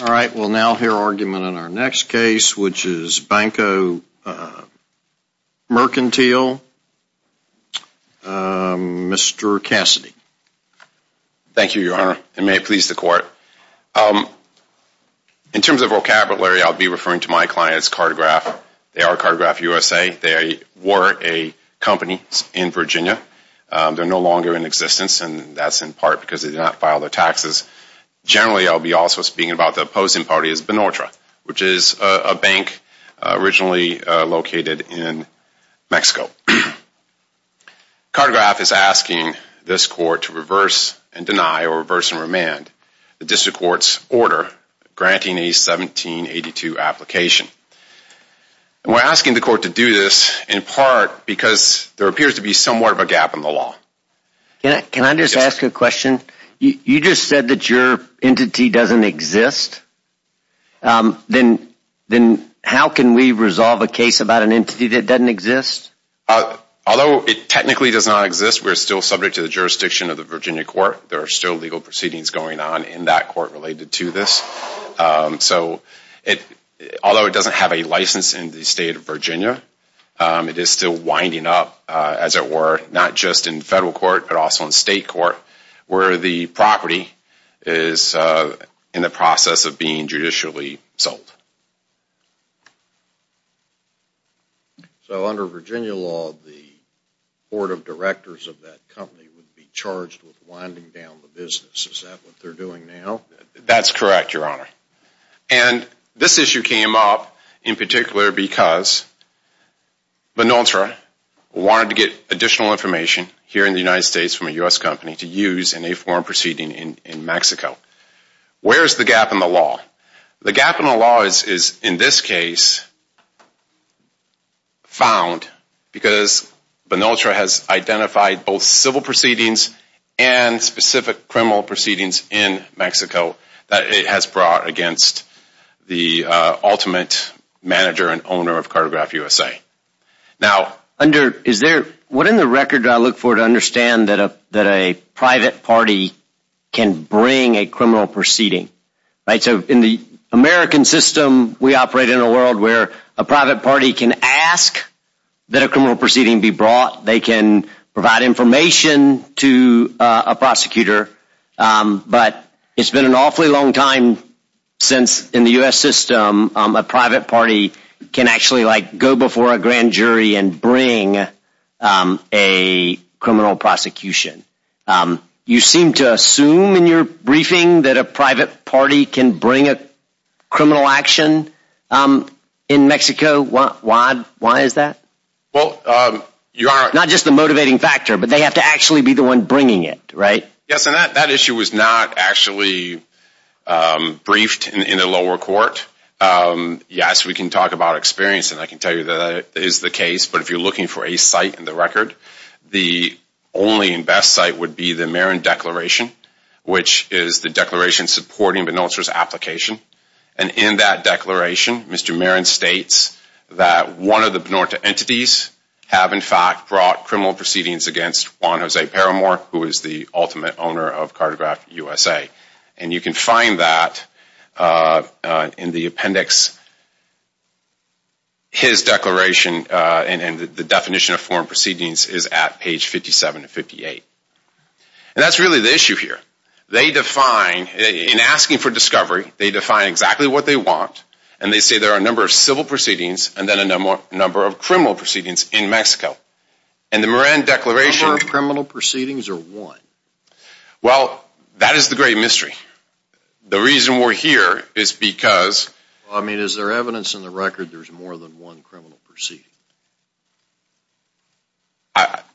All right, we'll now hear argument on our next case, which is Banco Mercantil, Mr. Cassidy. Thank you, Your Honor, and may it please the Court. In terms of vocabulary, I'll be referring to my client's cartograph. They are Cartograph USA. They were a company in Virginia. They're no longer in existence, and that's in part because they did not file their taxes. Generally, I'll be also speaking about the opposing party is Benotra, which is a bank originally located in Mexico. Cartograph is asking this Court to reverse and deny or reverse and remand the district court's order granting a 1782 application. We're asking the Court to do this in part because there appears to be somewhat of a gap in the law. Can I just ask a question? You just said that your entity doesn't exist. Then how can we resolve a case about an entity that doesn't exist? Although it technically does not exist, we're still subject to the jurisdiction of the Virginia Court. There are still legal proceedings going on in that court related to this. Although it doesn't have a license in the state of Virginia, it is still winding up, as it were, not just in federal court, but also in state court, where the property is in the process of being judicially sold. So under Virginia law, the Board of Directors of that company would be charged with winding down the business. Is that what they're doing now? That's correct, Your Honor. And this issue came up in particular because Vinotra wanted to get additional information here in the United States from a U.S. company to use in a foreign proceeding in Mexico. Where is the gap in the law? The gap in the law is in this case found because Vinotra has identified both civil proceedings and specific criminal proceedings in Mexico that it has brought against the ultimate manager and owner of Cartograph USA. What in the record do I look for to understand that a private party can bring a criminal proceeding? In the American system, we operate in a world where a private party can ask that a criminal proceeding be brought. They can provide information to a prosecutor, but it's been an awfully long time since in the U.S. system a private party can actually go before a grand jury and bring a criminal prosecution. You seem to assume in your briefing that a private party can bring a criminal action in Mexico. Why is that? Not just the motivating factor, but they have to actually be the one bringing it, right? Yes, and that issue was not actually briefed in the lower court. Yes, we can talk about experience, and I can tell you that is the case. But if you're looking for a site in the record, the only and best site would be the Marin Declaration, which is the declaration supporting Vinotra's application. And in that declaration, Mr. Marin states that one of the Vinotra entities have in fact brought criminal proceedings against Juan Jose Peramor, who is the ultimate owner of Cartograph USA. And you can find that in the appendix. His declaration and the definition of foreign proceedings is at page 57 and 58. And that's really the issue here. In asking for discovery, they define exactly what they want, and they say there are a number of civil proceedings and then a number of criminal proceedings in Mexico. A number of criminal proceedings or one? Well, that is the great mystery. The reason we're here is because... I mean, is there evidence in the record there's more than one criminal proceeding?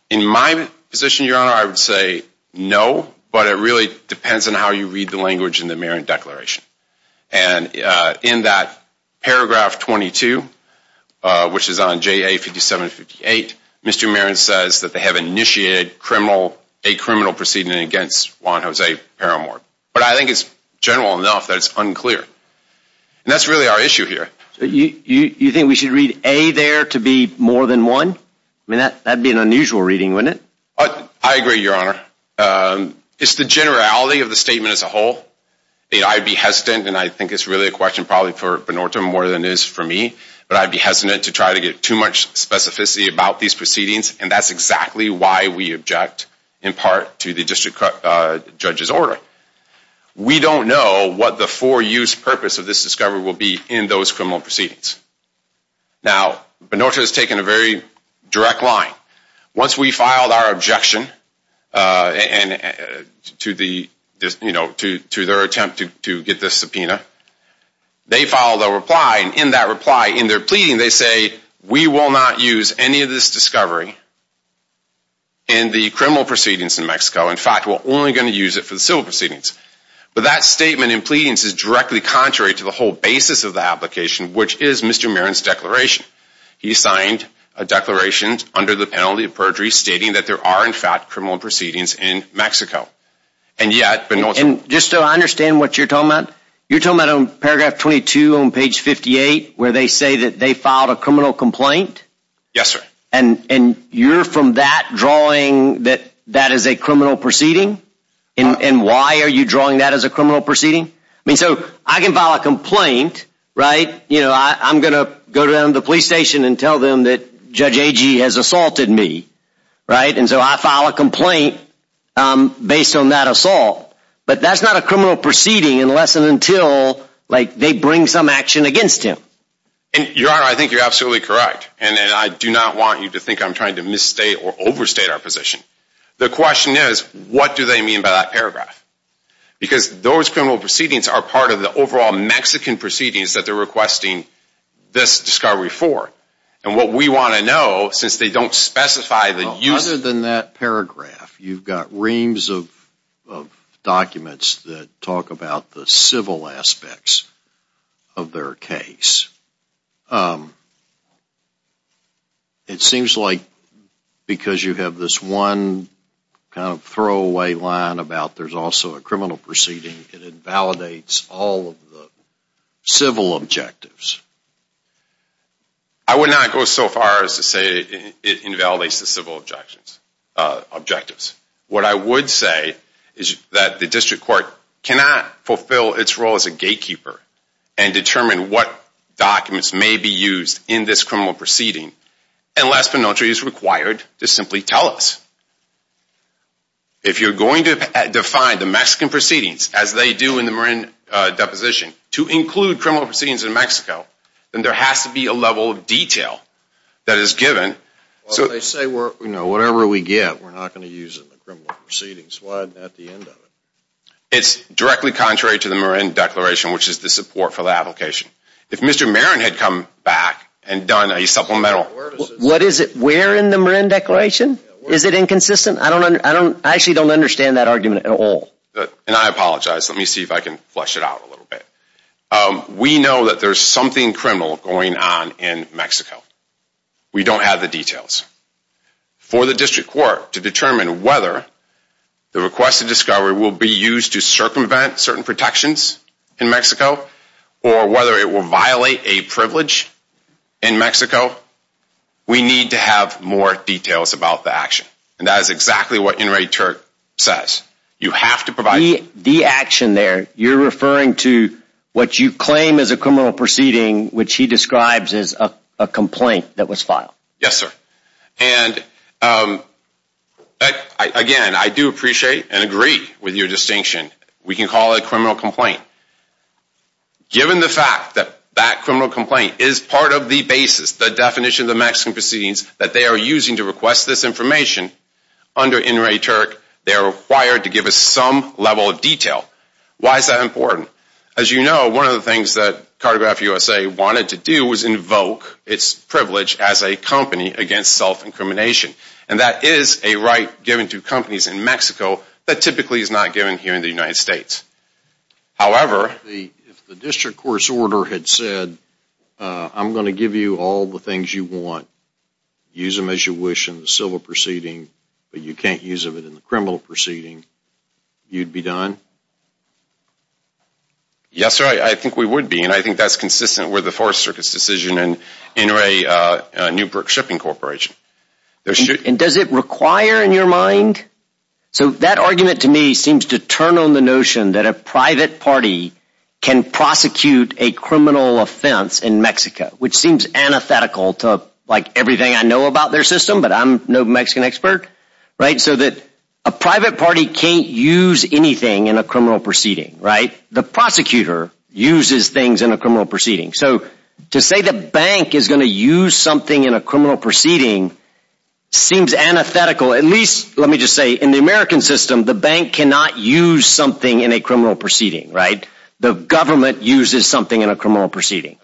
In my position, Your Honor, I would say no, but it really depends on how you read the language in the Marin Declaration. And in that paragraph 22, which is on JA-57-58, Mr. Marin says that they have initiated a criminal proceeding against Juan Jose Peramor. But I think it's general enough that it's unclear. And that's really our issue here. You think we should read A there to be more than one? I mean, that would be an unusual reading, wouldn't it? I agree, Your Honor. It's the generality of the statement as a whole. I'd be hesitant, and I think it's really a question probably for Bernardo more than it is for me, but I'd be hesitant to try to get too much specificity about these proceedings, and that's exactly why we object in part to the district judge's order. We don't know what the for-use purpose of this discovery will be in those criminal proceedings. Now, Bernardo has taken a very direct line. Once we filed our objection to their attempt to get this subpoena, they filed a reply, and in that reply, in their pleading, they say, we will not use any of this discovery in the criminal proceedings in Mexico. In fact, we're only going to use it for the civil proceedings. But that statement in pleadings is directly contrary to the whole basis of the application, which is Mr. Marin's declaration. He signed a declaration under the penalty of perjury, stating that there are, in fact, criminal proceedings in Mexico. And yet, Bernardo... And just so I understand what you're talking about, you're talking about on paragraph 22 on page 58, where they say that they filed a criminal complaint? Yes, sir. And you're from that drawing that that is a criminal proceeding? And why are you drawing that as a criminal proceeding? I mean, so I can file a complaint, right? You know, I'm going to go to the police station and tell them that Judge Agee has assaulted me, right? And so I file a complaint based on that assault. But that's not a criminal proceeding unless and until, like, they bring some action against him. Your Honor, I think you're absolutely correct. And I do not want you to think I'm trying to misstate or overstate our position. The question is, what do they mean by that paragraph? Because those criminal proceedings are part of the overall Mexican proceedings that they're requesting this discovery for. And what we want to know, since they don't specify that you... Other than that paragraph, you've got reams of documents that talk about the civil aspects of their case. It seems like because you have this one kind of throwaway line about there's also a criminal proceeding, it invalidates all of the civil objectives. I would not go so far as to say it invalidates the civil objectives. What I would say is that the district court cannot fulfill its role as a gatekeeper and determine what documents may be used in this criminal proceeding unless Penelty is required to simply tell us. If you're going to define the Mexican proceedings as they do in the Marin deposition to include criminal proceedings in Mexico, then there has to be a level of detail that is given. Well, they say, you know, whatever we get, we're not going to use it in the criminal proceedings. Why not the end of it? It's directly contrary to the Marin declaration, which is the support for the application. If Mr. Marin had come back and done a supplemental... What is it? We're in the Marin declaration? Is it inconsistent? I actually don't understand that argument at all. And I apologize. Let me see if I can flesh it out a little bit. We know that there's something criminal going on in Mexico. We don't have the details. For the district court to determine whether the requested discovery will be used to circumvent certain protections in Mexico or whether it will violate a privilege in Mexico, we need to have more details about the action. And that is exactly what Enrique Turk says. You have to provide... The action there, you're referring to what you claim is a criminal proceeding, which he describes as a complaint that was filed. Yes, sir. And, again, I do appreciate and agree with your distinction. We can call it a criminal complaint. Given the fact that that criminal complaint is part of the basis, the definition of the Mexican proceedings, that they are using to request this information, under Enrique Turk, they are required to give us some level of detail. Why is that important? As you know, one of the things that Cartograph USA wanted to do was invoke its privilege as a company against self-incrimination. And that is a right given to companies in Mexico that typically is not given here in the United States. However... If the district court's order had said, I'm going to give you all the things you want, use them as you wish in the civil proceeding, but you can't use them in the criminal proceeding, you'd be done? Yes, sir. I think we would be. And I think that's consistent with the Fourth Circuit's decision in Enrique Newbrook Shipping Corporation. And does it require in your mind? So that argument to me seems to turn on the notion that a private party can prosecute a criminal offense in Mexico, which seems antithetical to everything I know about their system, but I'm no Mexican expert. So that a private party can't use anything in a criminal proceeding. The prosecutor uses things in a criminal proceeding. So to say the bank is going to use something in a criminal proceeding seems antithetical. At least, let me just say, in the American system, the bank cannot use something in a criminal proceeding. The government uses something in a criminal proceeding.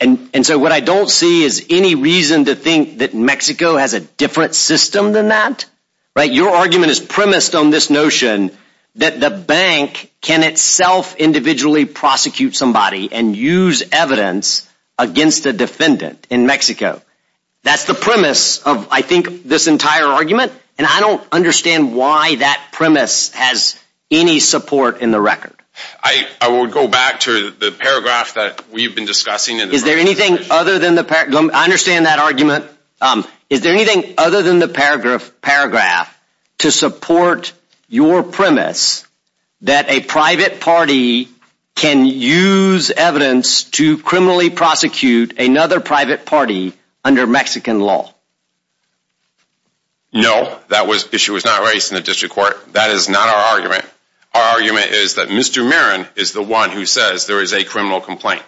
And so what I don't see is any reason to think that Mexico has a different system than that. Your argument is premised on this notion that the bank can itself individually prosecute somebody and use evidence against a defendant in Mexico. That's the premise of, I think, this entire argument. And I don't understand why that premise has any support in the record. I would go back to the paragraph that we've been discussing. I understand that argument. Is there anything other than the paragraph to support your premise that a private party can use evidence to criminally prosecute another private party under Mexican law? No, that issue was not raised in the district court. That is not our argument. Our argument is that Mr. Marin is the one who says there is a criminal complaint.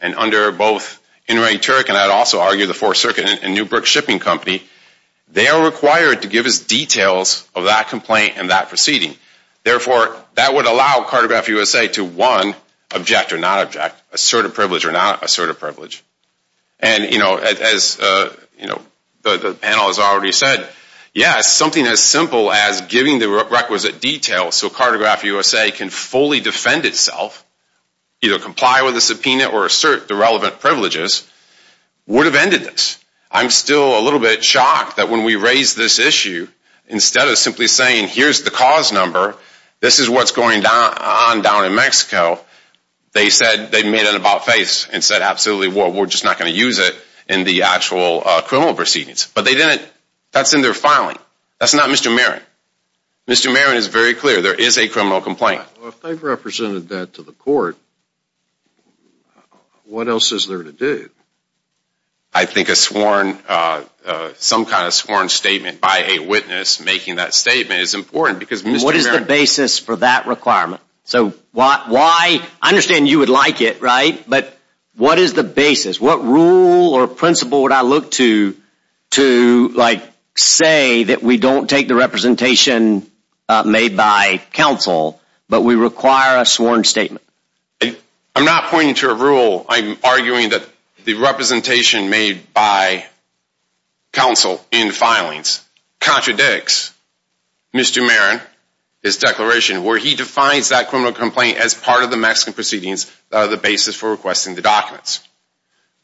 And under both Inouye Turek, and I'd also argue the Fourth Circuit and Newbrook Shipping Company, they are required to give us details of that complaint and that proceeding. Therefore, that would allow Cartograph USA to, one, object or not object, assert a privilege or not assert a privilege. And, you know, as the panel has already said, yes, something as simple as giving the requisite details so Cartograph USA can fully defend itself, either comply with the subpoena or assert the relevant privileges, would have ended this. I'm still a little bit shocked that when we raised this issue, instead of simply saying here's the cause number, this is what's going on down in Mexico, they said they made an about-face and said absolutely we're just not going to use it in the actual criminal proceedings. But they didn't. That's in their filing. That's not Mr. Marin. Mr. Marin is very clear. There is a criminal complaint. If they've represented that to the court, what else is there to do? I think a sworn, some kind of sworn statement by a witness making that statement is important because Mr. Marin What is the basis for that requirement? So why, I understand you would like it, right, but what is the basis? What rule or principle would I look to to say that we don't take the representation made by counsel, but we require a sworn statement? I'm not pointing to a rule. I'm arguing that the representation made by counsel in filings contradicts Mr. Marin, his declaration, where he defines that criminal complaint as part of the Mexican proceedings that are the basis for requesting the documents.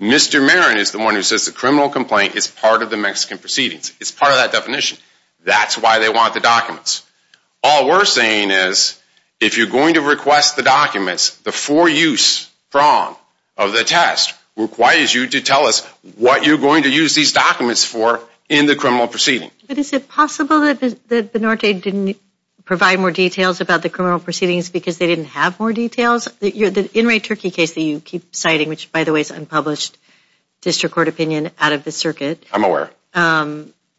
Mr. Marin is the one who says the criminal complaint is part of the Mexican proceedings. It's part of that definition. That's why they want the documents. All we're saying is if you're going to request the documents, the for-use prong of the test requires you to tell us what you're going to use these documents for in the criminal proceeding. But is it possible that Benarte didn't provide more details about the criminal proceedings because they didn't have more details? The In Re Turkey case that you keep citing, which by the way is unpublished district court opinion out of the circuit, I'm aware.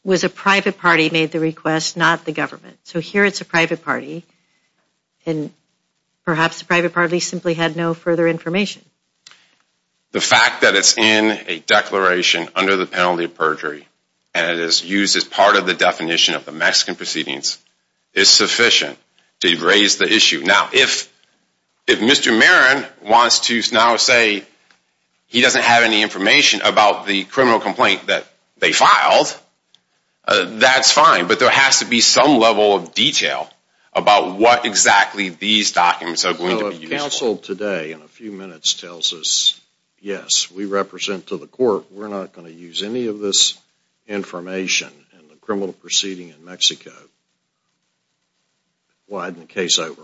was a private party made the request, not the government. So here it's a private party, and perhaps the private party simply had no further information. The fact that it's in a declaration under the penalty of perjury, and it is used as part of the definition of the Mexican proceedings, is sufficient to raise the issue. Now, if Mr. Marin wants to now say he doesn't have any information about the criminal complaint that they filed, that's fine, but there has to be some level of detail about what exactly these documents are going to be used for. The counsel today, in a few minutes, tells us, yes, we represent to the court, we're not going to use any of this information in the criminal proceeding in Mexico. Widen the case over.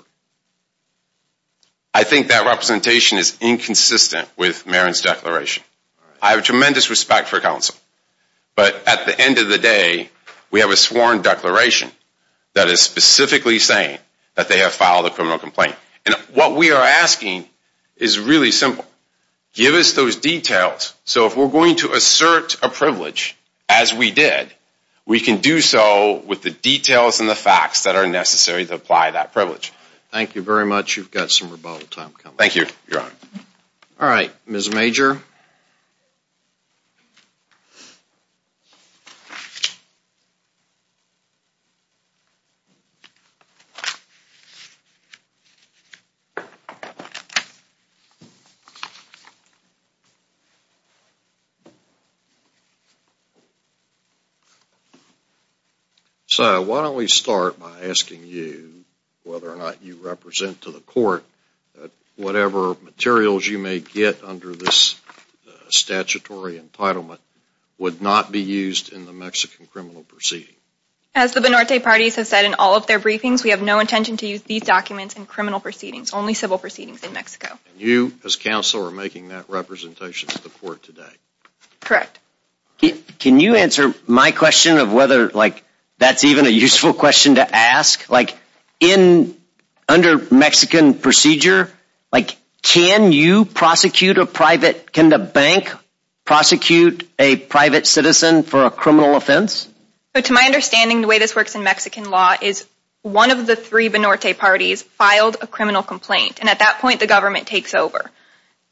I think that representation is inconsistent with Marin's declaration. I have tremendous respect for counsel, but at the end of the day, we have a sworn declaration that is specifically saying that they have filed a criminal complaint. And what we are asking is really simple. Give us those details, so if we're going to assert a privilege, as we did, we can do so with the details and the facts that are necessary to apply that privilege. Thank you very much. You've got some rebuttal time coming up. Thank you, Your Honor. All right, Ms. Major. So, why don't we start by asking you whether or not you represent to the court that whatever materials you may get under this statutory entitlement would not be used in the Mexican criminal proceeding. As the Binorte parties have said in all of their briefings, we have no intention to use these documents in criminal proceedings, only civil proceedings in Mexico. And you, as counsel, are making that representation to the court today. Correct. Can you answer my question of whether that's even a useful question to ask? Like, under Mexican procedure, can you prosecute a private, can the bank prosecute a private citizen for a criminal offense? To my understanding, the way this works in Mexican law is one of the three Binorte parties filed a criminal complaint, and at that point, the government takes over.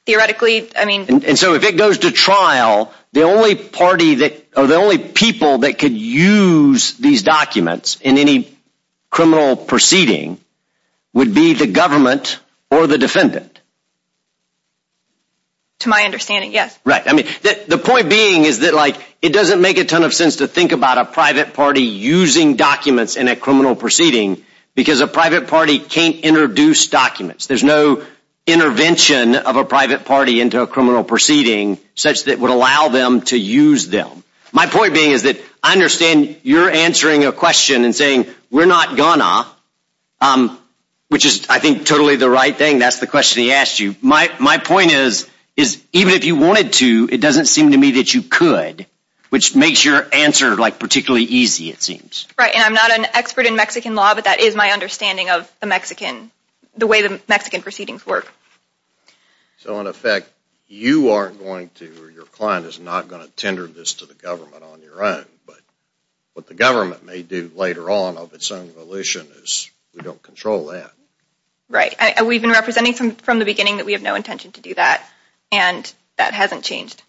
Theoretically, I mean... And so if it goes to trial, the only party that, or the only people that could use these documents in any criminal proceeding would be the government or the defendant. To my understanding, yes. Right. I mean, the point being is that, like, it doesn't make a ton of sense to think about a private party using documents in a criminal proceeding because a private party can't introduce documents. There's no intervention of a private party into a criminal proceeding such that would allow them to use them. My point being is that I understand you're answering a question and saying, we're not gonna, which is, I think, totally the right thing. That's the question he asked you. My point is, even if you wanted to, it doesn't seem to me that you could, which makes your answer, like, particularly easy, it seems. Right, and I'm not an expert in Mexican law, but that is my understanding of the Mexican, the way the Mexican proceedings work. So in effect, you are going to, or your client is not going to tender this to the government on your own, but what the government may do later on of its own volition is we don't control that. Right, and we've been representing from the beginning that we have no intention to do that, and that hasn't changed.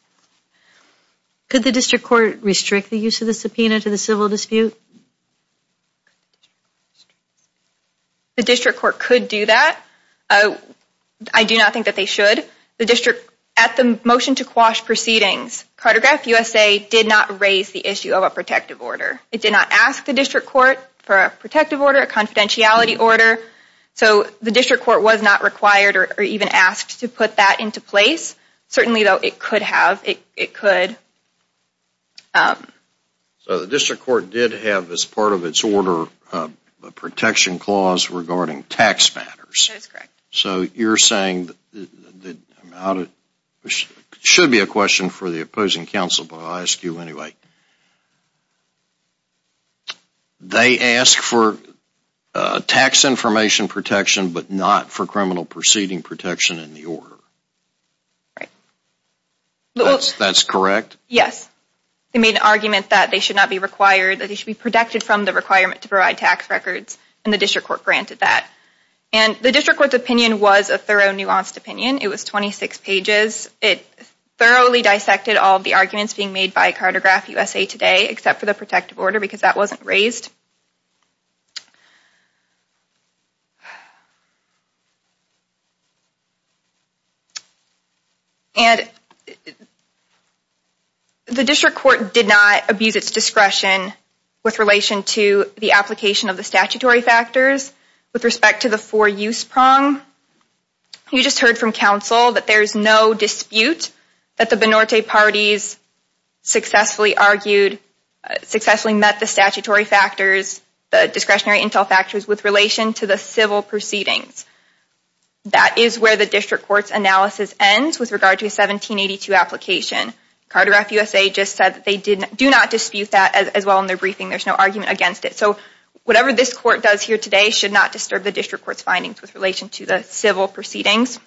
Could the district court restrict the use of the subpoena to the civil dispute? The district court could do that. I do not think that they should. The district, at the motion to quash proceedings, Cartograph USA did not raise the issue of a protective order. It did not ask the district court for a protective order, a confidentiality order, so the district court was not required or even asked to put that into place. Certainly, though, it could have, it could. So the district court did have as part of its order a protection clause regarding tax matters. That is correct. So you're saying, it should be a question for the opposing counsel, but I'll ask you anyway. They ask for tax information protection, but not for criminal proceeding protection in the order. Right. That's correct? Yes. They made an argument that they should not be required, that they should be protected from the requirement to provide tax records, and the district court granted that. And the district court's opinion was a thorough, nuanced opinion. It was 26 pages. It thoroughly dissected all the arguments being made by Cartograph USA today, except for the protective order, because that wasn't raised. And the district court did not abuse its discretion with relation to the application of the statutory factors with respect to the four-use prong. You just heard from counsel that there's no dispute that the Benorte parties successfully argued, successfully met the statutory factors, the discretionary intel factors, with relation to the civil proceedings. That is where the district court's analysis ends with regard to the 1782 application. Cartograph USA just said that they do not dispute that as well in their briefing. There's no argument against it. So whatever this court does here today should not disturb the district court's findings with relation to the civil proceedings.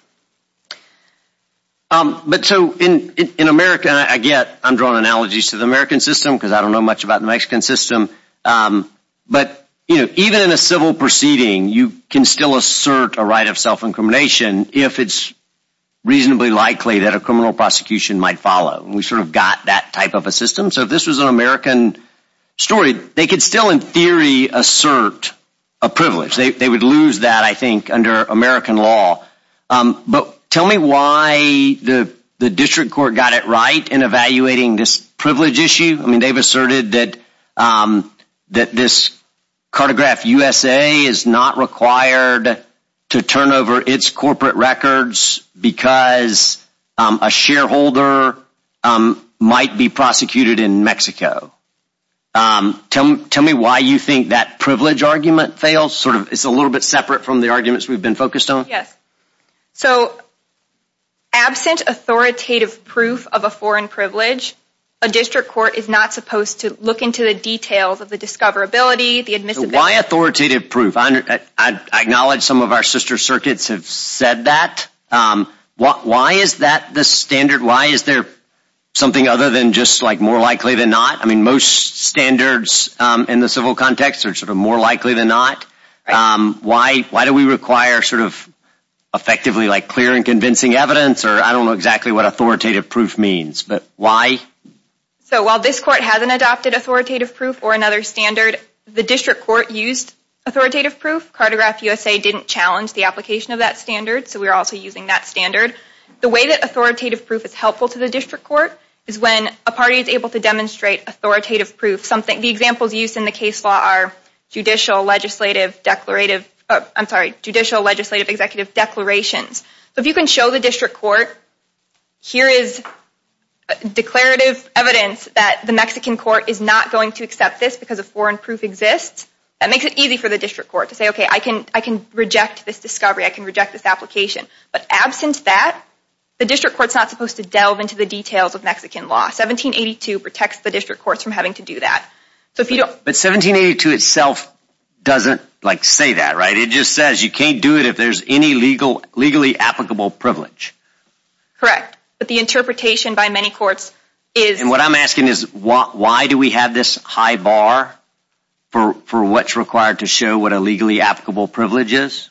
But so in America, again, I'm drawing analogies to the American system because I don't know much about the Mexican system. But even in a civil proceeding, you can still assert a right of self-incrimination if it's reasonably likely that a criminal prosecution might follow. We sort of got that type of a system. So if this was an American story, they could still in theory assert a privilege. They would lose that, I think, under American law. But tell me why the district court got it right in evaluating this privilege issue. I mean, they've asserted that this Cartograph USA is not required to turn over its corporate records because a shareholder might be prosecuted in Mexico. Tell me why you think that privilege argument fails. It's a little bit separate from the arguments we've been focused on. Yes. So absent authoritative proof of a foreign privilege, a district court is not supposed to look into the details of the discoverability, the admissibility. Why authoritative proof? I acknowledge some of our sister circuits have said that. Why is that the standard? Why is there something other than just like more likely than not? I mean, most standards in the civil context are sort of more likely than not. Why do we require sort of effectively like clear and convincing evidence or I don't know exactly what authoritative proof means, but why? So while this court hasn't adopted authoritative proof or another standard, the district court used authoritative proof. Cartograph USA didn't challenge the application of that standard, so we're also using that standard. The way that authoritative proof is helpful to the district court is when a party is able to demonstrate authoritative proof. The examples used in the case law are judicial, legislative, executive declarations. If you can show the district court, here is declarative evidence that the Mexican court is not going to accept this because a foreign proof exists, that makes it easy for the district court to say, okay, I can reject this discovery. I can reject this application. But absent that, the district court is not supposed to delve into the details of Mexican law. 1782 protects the district courts from having to do that. But 1782 itself doesn't like say that, right? It just says you can't do it if there's any legally applicable privilege. Correct, but the interpretation by many courts is. And what I'm asking is why do we have this high bar for what's required to show what a legally applicable privilege is?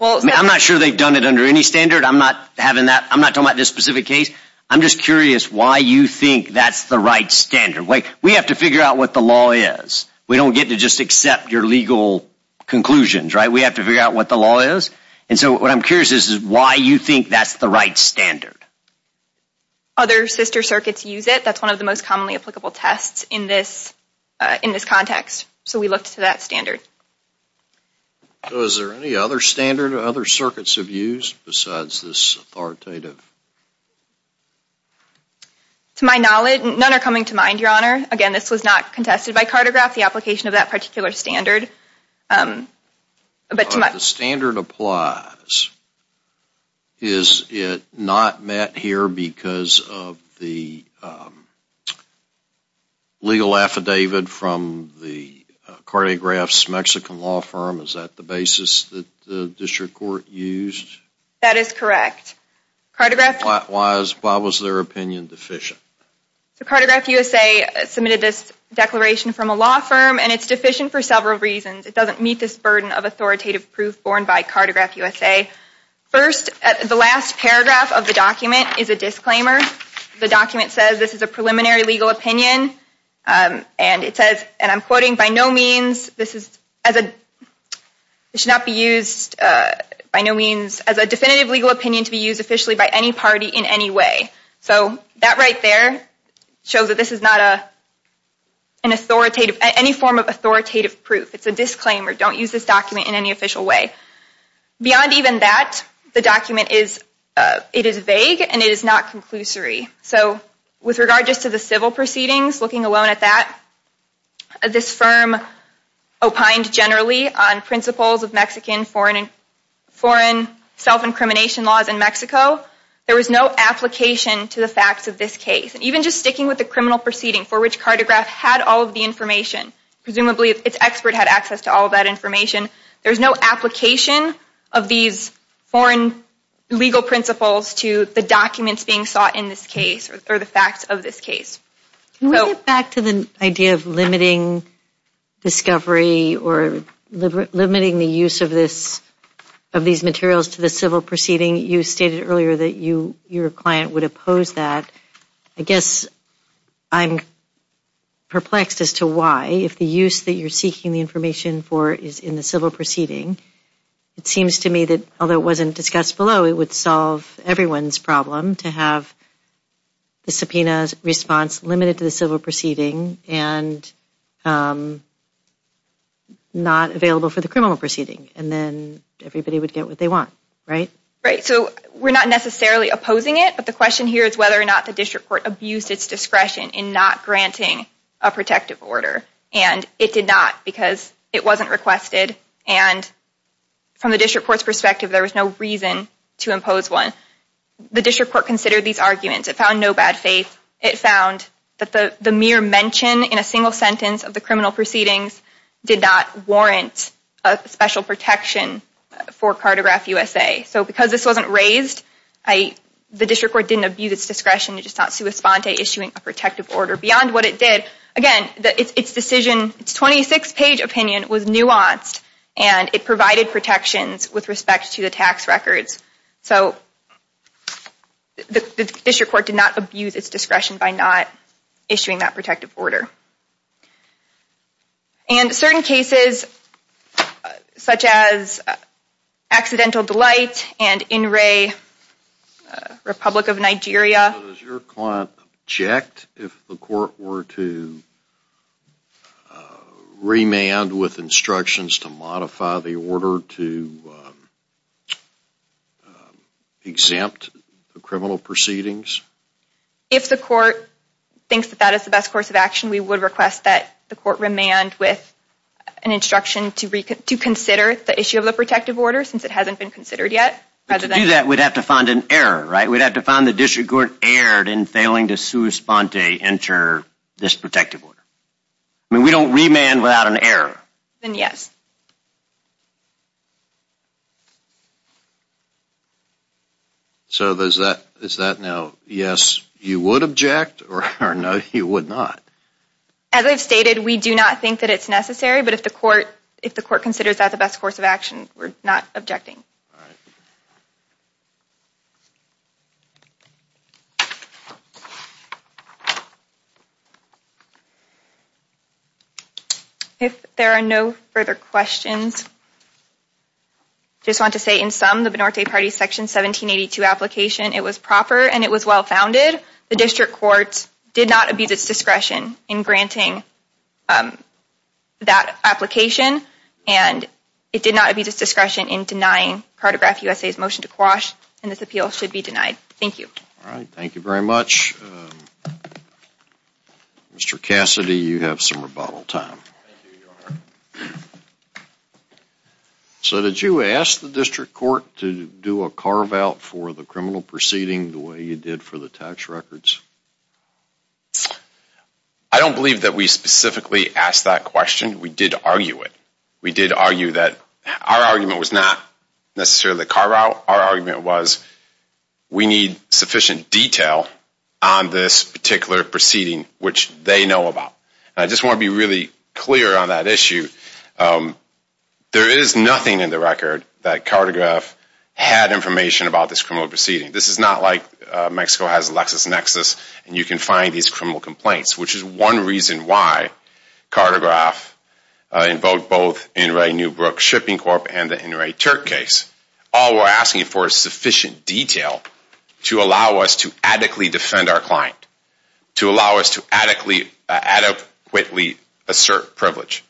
I'm not sure they've done it under any standard. I'm not talking about this specific case. I'm just curious why you think that's the right standard. We have to figure out what the law is. We don't get to just accept your legal conclusions, right? We have to figure out what the law is. And so what I'm curious is why you think that's the right standard. Other sister circuits use it. That's one of the most commonly applicable tests in this context. So we looked to that standard. Is there any other standard other circuits have used besides this authoritative? To my knowledge, none are coming to mind, Your Honor. Again, this was not contested by Cartograph, the application of that particular standard. If the standard applies, is it not met here because of the legal affidavit from the Cartograph's Mexican law firm? Is that the basis that the district court used? That is correct. Why was their opinion deficient? So Cartograph USA submitted this declaration from a law firm, and it's deficient for several reasons. It doesn't meet this burden of authoritative proof borne by Cartograph USA. First, the last paragraph of the document is a disclaimer. The document says this is a preliminary legal opinion, and it says, and I'm quoting, by no means should it be used as a definitive legal opinion to be used officially by any party in any way. So that right there shows that this is not an authoritative, any form of authoritative proof. It's a disclaimer. Don't use this document in any official way. Beyond even that, the document is, it is vague, and it is not conclusory. So with regard just to the civil proceedings, looking alone at that, this firm opined generally on principles of Mexican foreign self-incrimination laws in Mexico. There was no application to the facts of this case. And even just sticking with the criminal proceeding for which Cartograph had all of the information, presumably its expert had access to all of that information, there's no application of these foreign legal principles to the documents being sought in this case or the facts of this case. Can we get back to the idea of limiting discovery or limiting the use of this, of these materials to the civil proceeding? You stated earlier that your client would oppose that. I guess I'm perplexed as to why, if the use that you're seeking the information for is in the civil proceeding, it seems to me that, although it wasn't discussed below, it would solve everyone's problem to have the subpoena's response limited to the civil proceeding and not available for the criminal proceeding, and then everybody would get what they want, right? Right. So we're not necessarily opposing it, but the question here is whether or not the district court abused its discretion in not granting a protective order, and it did not because it wasn't requested. And from the district court's perspective, there was no reason to impose one. The district court considered these arguments. It found no bad faith. It found that the mere mention in a single sentence of the criminal proceedings did not warrant a special protection for Cartograph USA. So because this wasn't raised, the district court didn't abuse its discretion in just not sua sponte issuing a protective order. Beyond what it did, again, its decision, its 26-page opinion was nuanced, and it provided protections with respect to the tax records. So the district court did not abuse its discretion by not issuing that protective order. And certain cases such as Accidental Delight and In Re, Republic of Nigeria. So does your client object if the court were to remand with instructions to modify the order to exempt the criminal proceedings? If the court thinks that that is the best course of action, we would request that the court remand with an instruction to consider the issue of the protective order since it hasn't been considered yet. But to do that, we'd have to find an error, right? We'd have to find the district court erred in failing to sua sponte enter this protective order. I mean, we don't remand without an error. Then yes. So is that now yes, you would object, or no, you would not? As I've stated, we do not think that it's necessary, but if the court considers that the best course of action, we're not objecting. All right. If there are no further questions, just want to say in sum, the Binorte Party Section 1782 application, it was proper and it was well-founded. The district court did not abuse its discretion in granting that application, and it did not abuse its discretion in denying Cartograph USA's motion to quash, and this appeal should be denied. Thank you. All right. Thank you very much. Mr. Cassidy, you have some rebuttal time. So did you ask the district court to do a carve-out for the criminal proceeding the way you did for the tax records? I don't believe that we specifically asked that question. We did argue it. We did argue that our argument was not necessarily carve-out. Our argument was we need sufficient detail on this particular proceeding, which they know about. I just want to be really clear on that issue. There is nothing in the record that Cartograph had information about this criminal proceeding. This is not like Mexico has a LexisNexis, and you can find these criminal complaints, which is one reason why Cartograph invoked both Inouye Newbrook Shipping Corp. and the Inouye Turk case. All we're asking for is sufficient detail to allow us to adequately defend our client, to allow us to adequately assert privilege.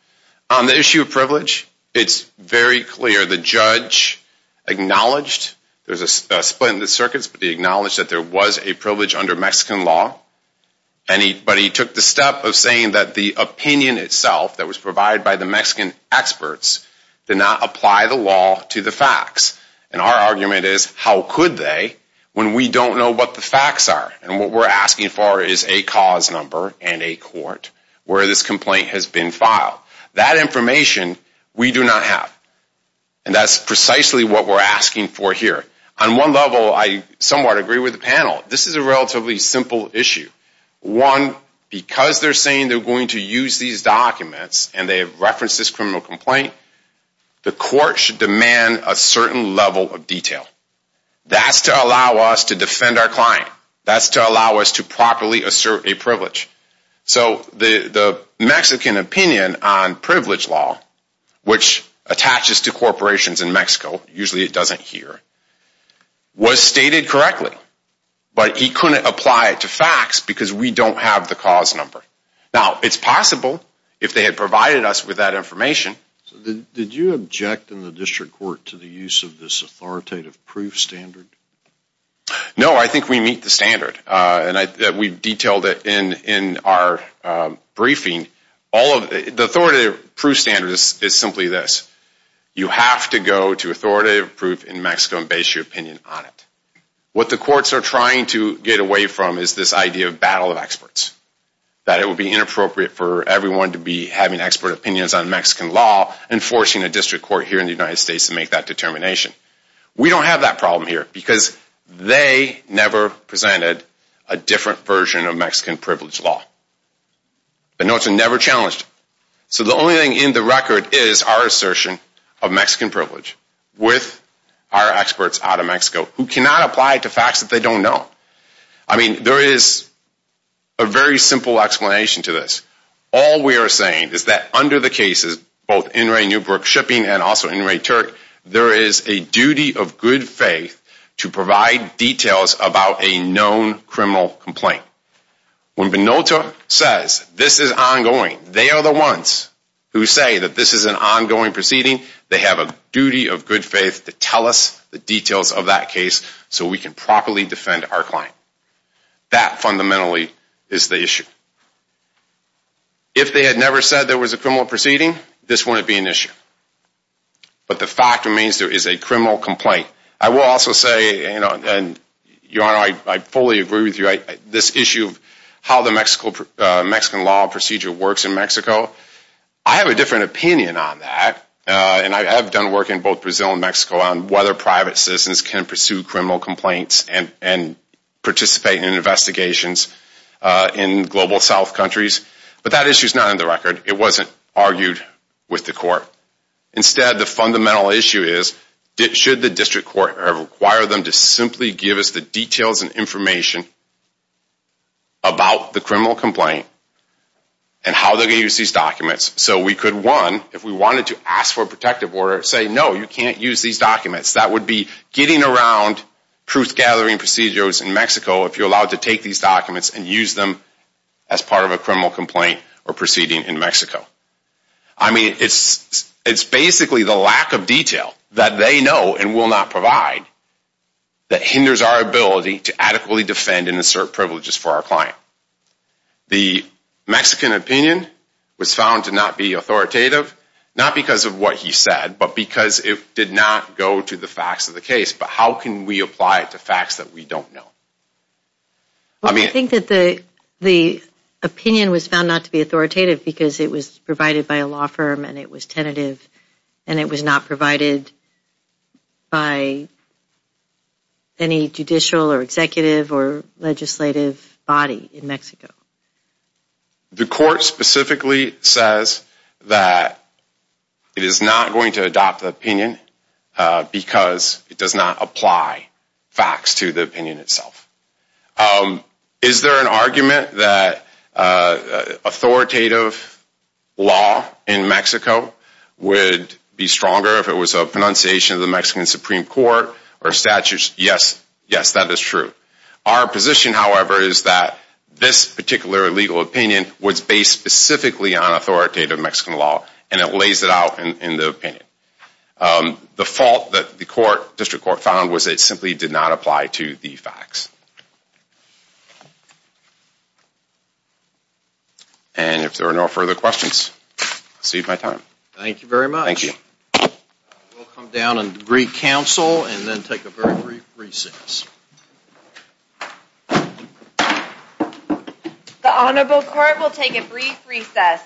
On the issue of privilege, it's very clear the judge acknowledged there's a split in the circuits, but he acknowledged that there was a privilege under Mexican law. But he took the step of saying that the opinion itself that was provided by the Mexican experts did not apply the law to the facts. And our argument is how could they when we don't know what the facts are? And what we're asking for is a cause number and a court where this complaint has been filed. That information we do not have. And that's precisely what we're asking for here. On one level, I somewhat agree with the panel. This is a relatively simple issue. One, because they're saying they're going to use these documents and they have referenced this criminal complaint, the court should demand a certain level of detail. That's to allow us to defend our client. That's to allow us to properly assert a privilege. So the Mexican opinion on privilege law, which attaches to corporations in Mexico, usually it doesn't here, was stated correctly. But he couldn't apply it to facts because we don't have the cause number. Now, it's possible if they had provided us with that information. Did you object in the district court to the use of this authoritative proof standard? No, I think we meet the standard. And we've detailed it in our briefing. The authoritative proof standard is simply this. You have to go to authoritative proof in Mexico and base your opinion on it. What the courts are trying to get away from is this idea of battle of experts. That it would be inappropriate for everyone to be having expert opinions on Mexican law and forcing a district court here in the United States to make that determination. We don't have that problem here because they never presented a different version of Mexican privilege law. But no, it's never challenged. So the only thing in the record is our assertion of Mexican privilege with our experts out of Mexico who cannot apply it to facts that they don't know. I mean, there is a very simple explanation to this. All we are saying is that under the cases, both In re Newbrook Shipping and also In re Turk, there is a duty of good faith to provide details about a known criminal complaint. When Benoto says this is ongoing, they are the ones who say that this is an ongoing proceeding. They have a duty of good faith to tell us the details of that case so we can properly defend our client. That fundamentally is the issue. If they had never said there was a criminal proceeding, this wouldn't be an issue. But the fact remains there is a criminal complaint. I will also say, Your Honor, I fully agree with you. This issue of how the Mexican law procedure works in Mexico, I have a different opinion on that. And I have done work in both Brazil and Mexico on whether private citizens can pursue criminal complaints and participate in investigations in global south countries. But that issue is not in the record. It wasn't argued with the court. Instead, the fundamental issue is, should the district court require them to simply give us the details and information about the criminal complaint and how they will use these documents so we could, one, if we wanted to ask for a protective order, say no, you can't use these documents. That would be getting around truth-gathering procedures in Mexico if you are allowed to take these documents and use them as part of a criminal complaint or proceeding in Mexico. I mean, it's basically the lack of detail that they know and will not provide that hinders our ability to adequately defend and assert privileges for our client. The Mexican opinion was found to not be authoritative, not because of what he said, but because it did not go to the facts of the case. But how can we apply it to facts that we don't know? I think that the opinion was found not to be authoritative because it was provided by a law firm and it was tentative and it was not provided by any judicial or executive or legislative body in Mexico. The court specifically says that it is not going to adopt the opinion because it does not apply facts to the opinion itself. Is there an argument that authoritative law in Mexico would be stronger if it was a pronunciation of the Mexican Supreme Court or statutes? Yes, yes, that is true. Our position, however, is that this particular legal opinion was based specifically on authoritative Mexican law and it lays it out in the opinion. The fault that the district court found was that it simply did not apply to the facts. And if there are no further questions, I'll cede my time. Thank you very much. Thank you. We'll come down and greet counsel and then take a very brief recess. The Honorable Court will take a brief recess.